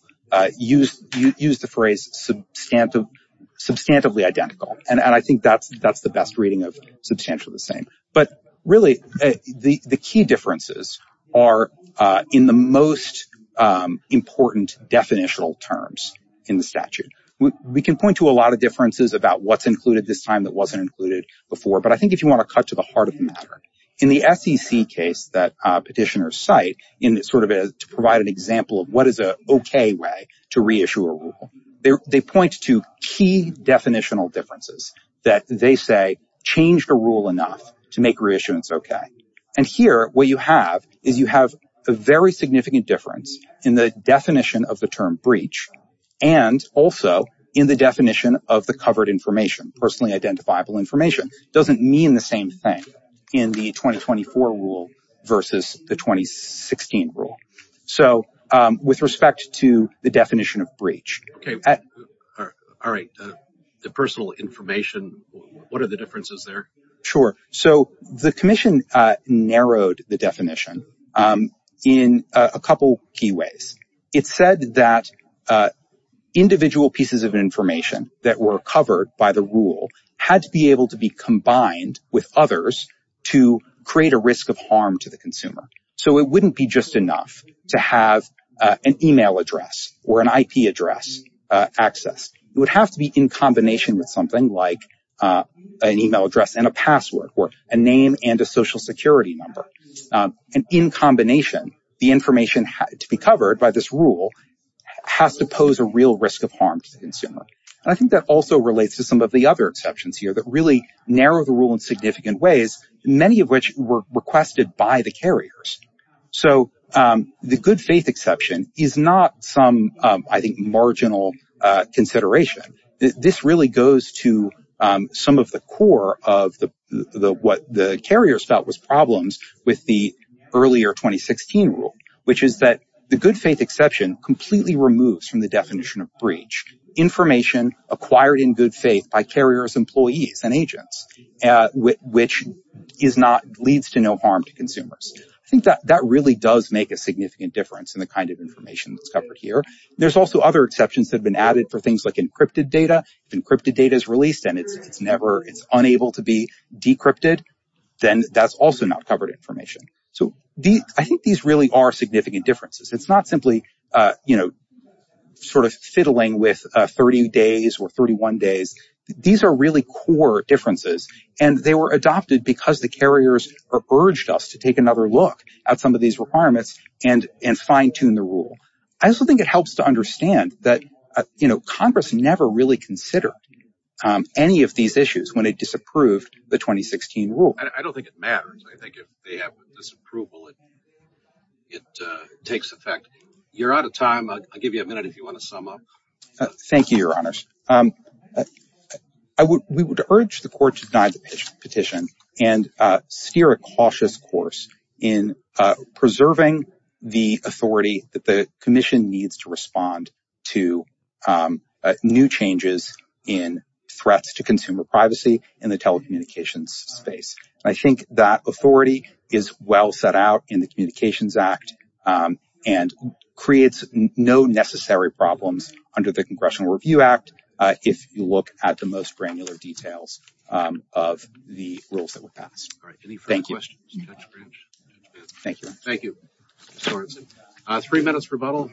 used the phrase substantively identical. And I think that's the best reading of substantially the same. But really, the key differences are in the most important definitional terms in the statute. We can point to a lot of differences about what's included this time that wasn't included before. I think if you want to cut to the heart of the matter, in the SEC case that petitioners cite, to provide an example of what is an okay way to reissue a rule, they point to key definitional differences that they say changed a rule enough to make reissuance okay. And here, what you have is you have a very significant difference in the definition of the term breach and also in the definition of the covered information, personally identifiable information. Doesn't mean the same thing in the 2024 rule versus the 2016 rule. So, with respect to the definition of breach... All right. The personal information, what are the differences there? Sure. So, the commission narrowed the definition in a couple key ways. It said that individual pieces of information that were covered by the rule had to be able to be combined with others to create a risk of harm to the consumer. So, it wouldn't be just enough to have an email address or an IP address accessed. It would have to be in combination with something like an email address and a password or a name and a social security number. And in combination, the information to be covered by this rule has to pose a real risk of harm to the consumer. And I think that also relates to some of the other exceptions here that really narrow the rule in significant ways, many of which were requested by the carriers. So, the good faith exception is not some, I think, marginal consideration. This really goes to some of the core of what the carriers felt was problems with the earlier 2016 rule, which is that the good faith exception completely removes from the definition of breach information acquired in good faith by carrier's employees and agents, which leads to no harm to consumers. I think that really does make a significant difference in the kind of information that's covered here. There's also other exceptions that have been added for things like encrypted data. If encrypted data is released and it's unable to be decrypted, then that's also not covered information. So, I think these really are significant differences. It's not simply, you know, sort of fiddling with 30 days or 31 days. These are really core differences. And they were adopted because the carriers urged us to take another look at some of these requirements and fine-tune the rule. I also think it helps to understand that, you know, Congress never really considered any of these issues when it disapproved the 2016 rule. I don't think it matters. I think if they have disapproval, it takes effect. You're out of time. I'll give you a minute if you want to sum up. Thank you, Your Honors. We would urge the court to deny the petition and steer a cautious course in preserving the authority that the commission needs to respond to new changes in threats to consumer privacy in the telecommunications space. I think that authority is well set out in the Communications Act and creates no necessary problems under the Congressional Review Act if you look at the most granular details of the rules that were passed. All right. Any further questions? Thank you. Thank you. Three minutes rebuttal.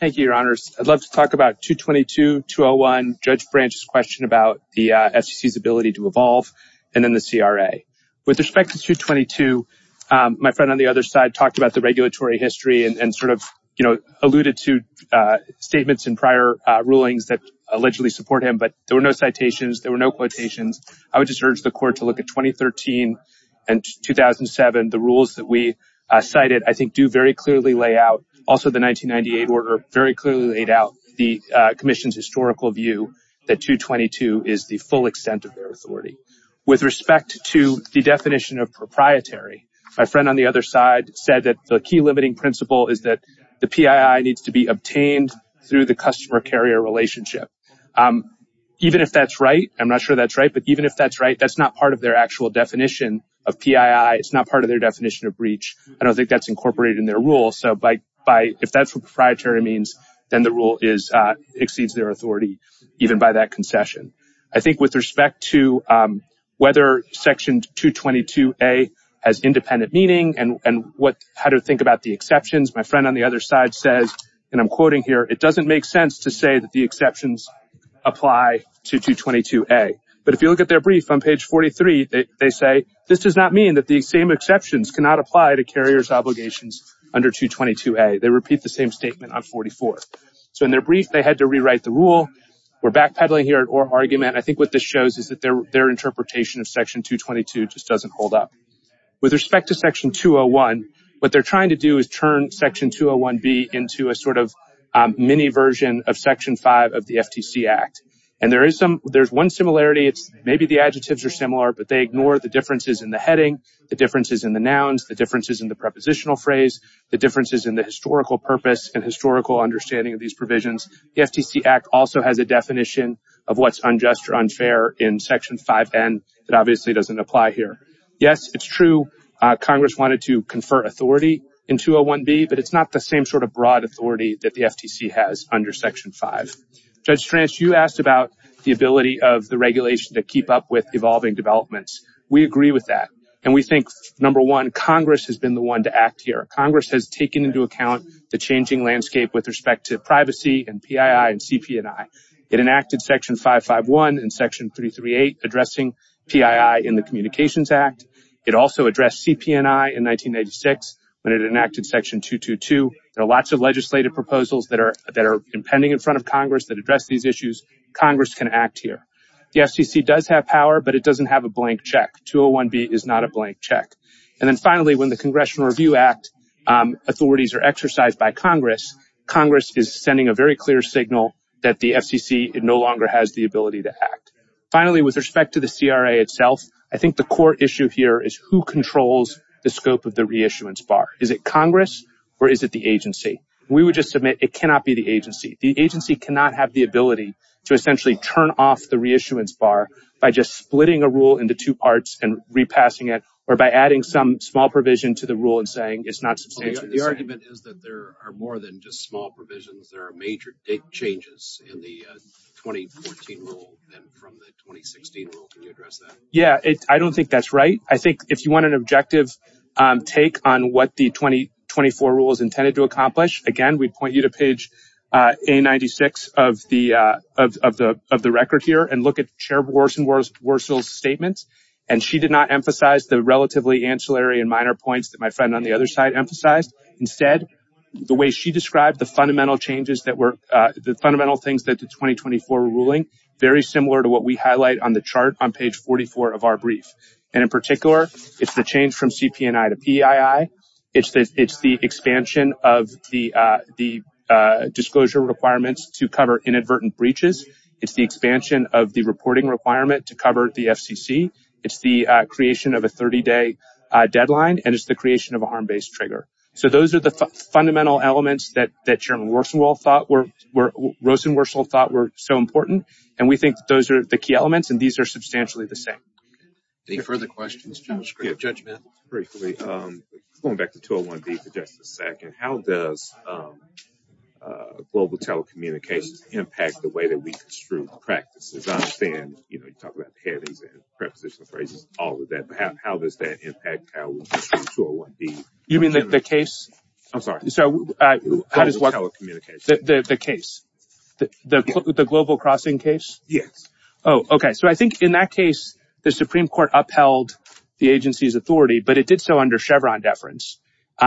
Thank you, Your Honors. I'd love to talk about 222-201. Judge Branch's question about the FCC's ability to evolve and then the CRA. With respect to 222, my friend on the other side talked about the regulatory history and sort of, you know, alluded to statements in prior rulings that allegedly support him, but there were no citations. There were no quotations. I would just urge the court to look at 2013 and 2007. The rules that we cited, I think, do very clearly lay out, also the 1998 order very clearly laid out the Commission's historical view that 222 is the full extent of their authority. With respect to the definition of proprietary, my friend on the other side said that the key limiting principle is that the PII needs to be obtained through the customer-carrier relationship. Even if that's right, I'm not sure that's right, but even if that's right, that's not part of their actual definition of PII. It's not part of their definition of breach. I don't think that's incorporated in their rule. If that's what proprietary means, then the rule exceeds their authority, even by that concession. I think with respect to whether section 222A has independent meaning and how to think about the exceptions, my friend on the other side says, and I'm quoting here, it doesn't make sense to say that the exceptions apply to 222A. But if you look at their brief on page 43, they say, This does not mean that the same exceptions cannot apply to carriers' obligations under 222A. They repeat the same statement on 44. So in their brief, they had to rewrite the rule. We're backpedaling here at our argument. I think what this shows is that their interpretation of section 222 just doesn't hold up. With respect to section 201, what they're trying to do is turn section 201B into a sort of mini version of section 5 of the FTC Act. And there is one similarity. It's maybe the adjectives are similar, but they ignore the differences in the heading, the differences in the nouns, the differences in the prepositional phrase, the differences in the historical purpose and historical understanding of these provisions. The FTC Act also has a definition of what's unjust or unfair in section 5N. It obviously doesn't apply here. Yes, it's true. Congress wanted to confer authority in 201B, but it's not the same sort of broad authority that the FTC has under section 5. Judge Stranst, you asked about the ability of the regulation to keep up with evolving developments. We agree with that. And we think, number one, Congress has been the one to act here. Congress has taken into account the changing landscape with respect to privacy and PII and CP&I. It enacted section 551 and section 338 addressing PII in the Communications Act. It also addressed CP&I in 1996 when it enacted section 222. There are lots of legislative proposals that are impending in front of Congress that address these issues. Congress can act here. The FCC does have power, but it doesn't have a blank check. 201B is not a blank check. And then finally, when the Congressional Review Act authorities are exercised by Congress, Congress is sending a very clear signal that the FCC no longer has the ability to act. Finally, with respect to the CRA itself, I think the core issue here is who controls the scope of the reissuance bar. Is it Congress or is it the agency? We would just submit it cannot be the agency. The agency cannot have the ability to essentially turn off the reissuance bar by just splitting a rule into two parts and repassing it or by adding some small provision to the rule and saying it's not substantial. The argument is that there are more than just small provisions. There are major changes in the 2014 rule than from the 2016 rule. Can you address that? Yeah, I don't think that's right. I think if you want an objective take on what the 2024 rule is intended to accomplish, again, we'd point you to page A96 of the record here and look at Chair Worsel's statements. And she did not emphasize the relatively ancillary and minor points that my friend on the other side emphasized. Instead, the way she described the fundamental changes that were the fundamental things that the 2024 ruling very similar to what we highlight on the chart on page 44 of our brief. And in particular, it's the change from CP&I to PEII. It's the expansion of the disclosure requirements to cover inadvertent breaches. It's the expansion of the reporting requirement to cover the FCC. It's the creation of a 30-day deadline. And it's the creation of a harm-based trigger. So those are the fundamental elements that Chairman Worsel thought were so important. And we think those are the key elements. And these are substantially the same. Any further questions, Judge Smith? Briefly, going back to 201B for just a second, how does global telecommunications impact the way that we construe practices? I understand you talk about panties and prepositional phrases, all of that. But how does that impact how we construe 201B? You mean the case? I'm sorry. So how does what? Global telecommunications. The case, the Global Crossing case? Yes. Oh, OK. So I think in that case, the Supreme Court upheld the agency's authority. But it did so under Chevron deference.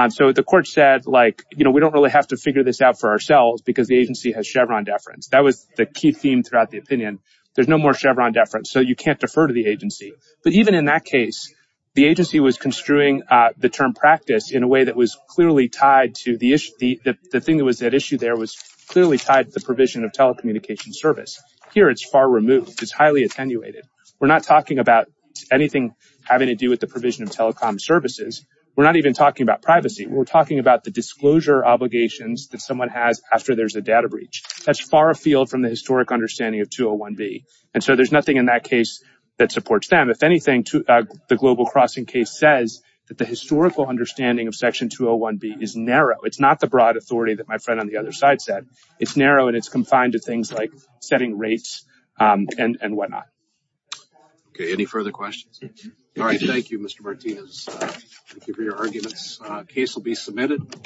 So the court said, we don't really have to figure this out for ourselves, because the agency has Chevron deference. That was the key theme throughout the opinion. There's no more Chevron deference. So you can't defer to the agency. But even in that case, the agency was construing the term practice in a way that was clearly tied to the issue. The thing that was at issue there was clearly tied to the provision of telecommunication service. Here, it's far removed. It's highly attenuated. We're not talking about anything having to do with the provision of telecom services. We're not even talking about privacy. We're talking about the disclosure obligations that someone has after there's a data breach. That's far afield from the historic understanding of 201B. And so there's nothing in that case that supports them. If anything, the Global Crossing case says that the historical understanding of Section 201B is narrow. It's not the broad authority that my friend on the other side said. It's narrow, and it's confined to things like setting rates and whatnot. OK, any further questions? All right. Thank you, Mr. Martinez. Thank you for your arguments. The case will be submitted.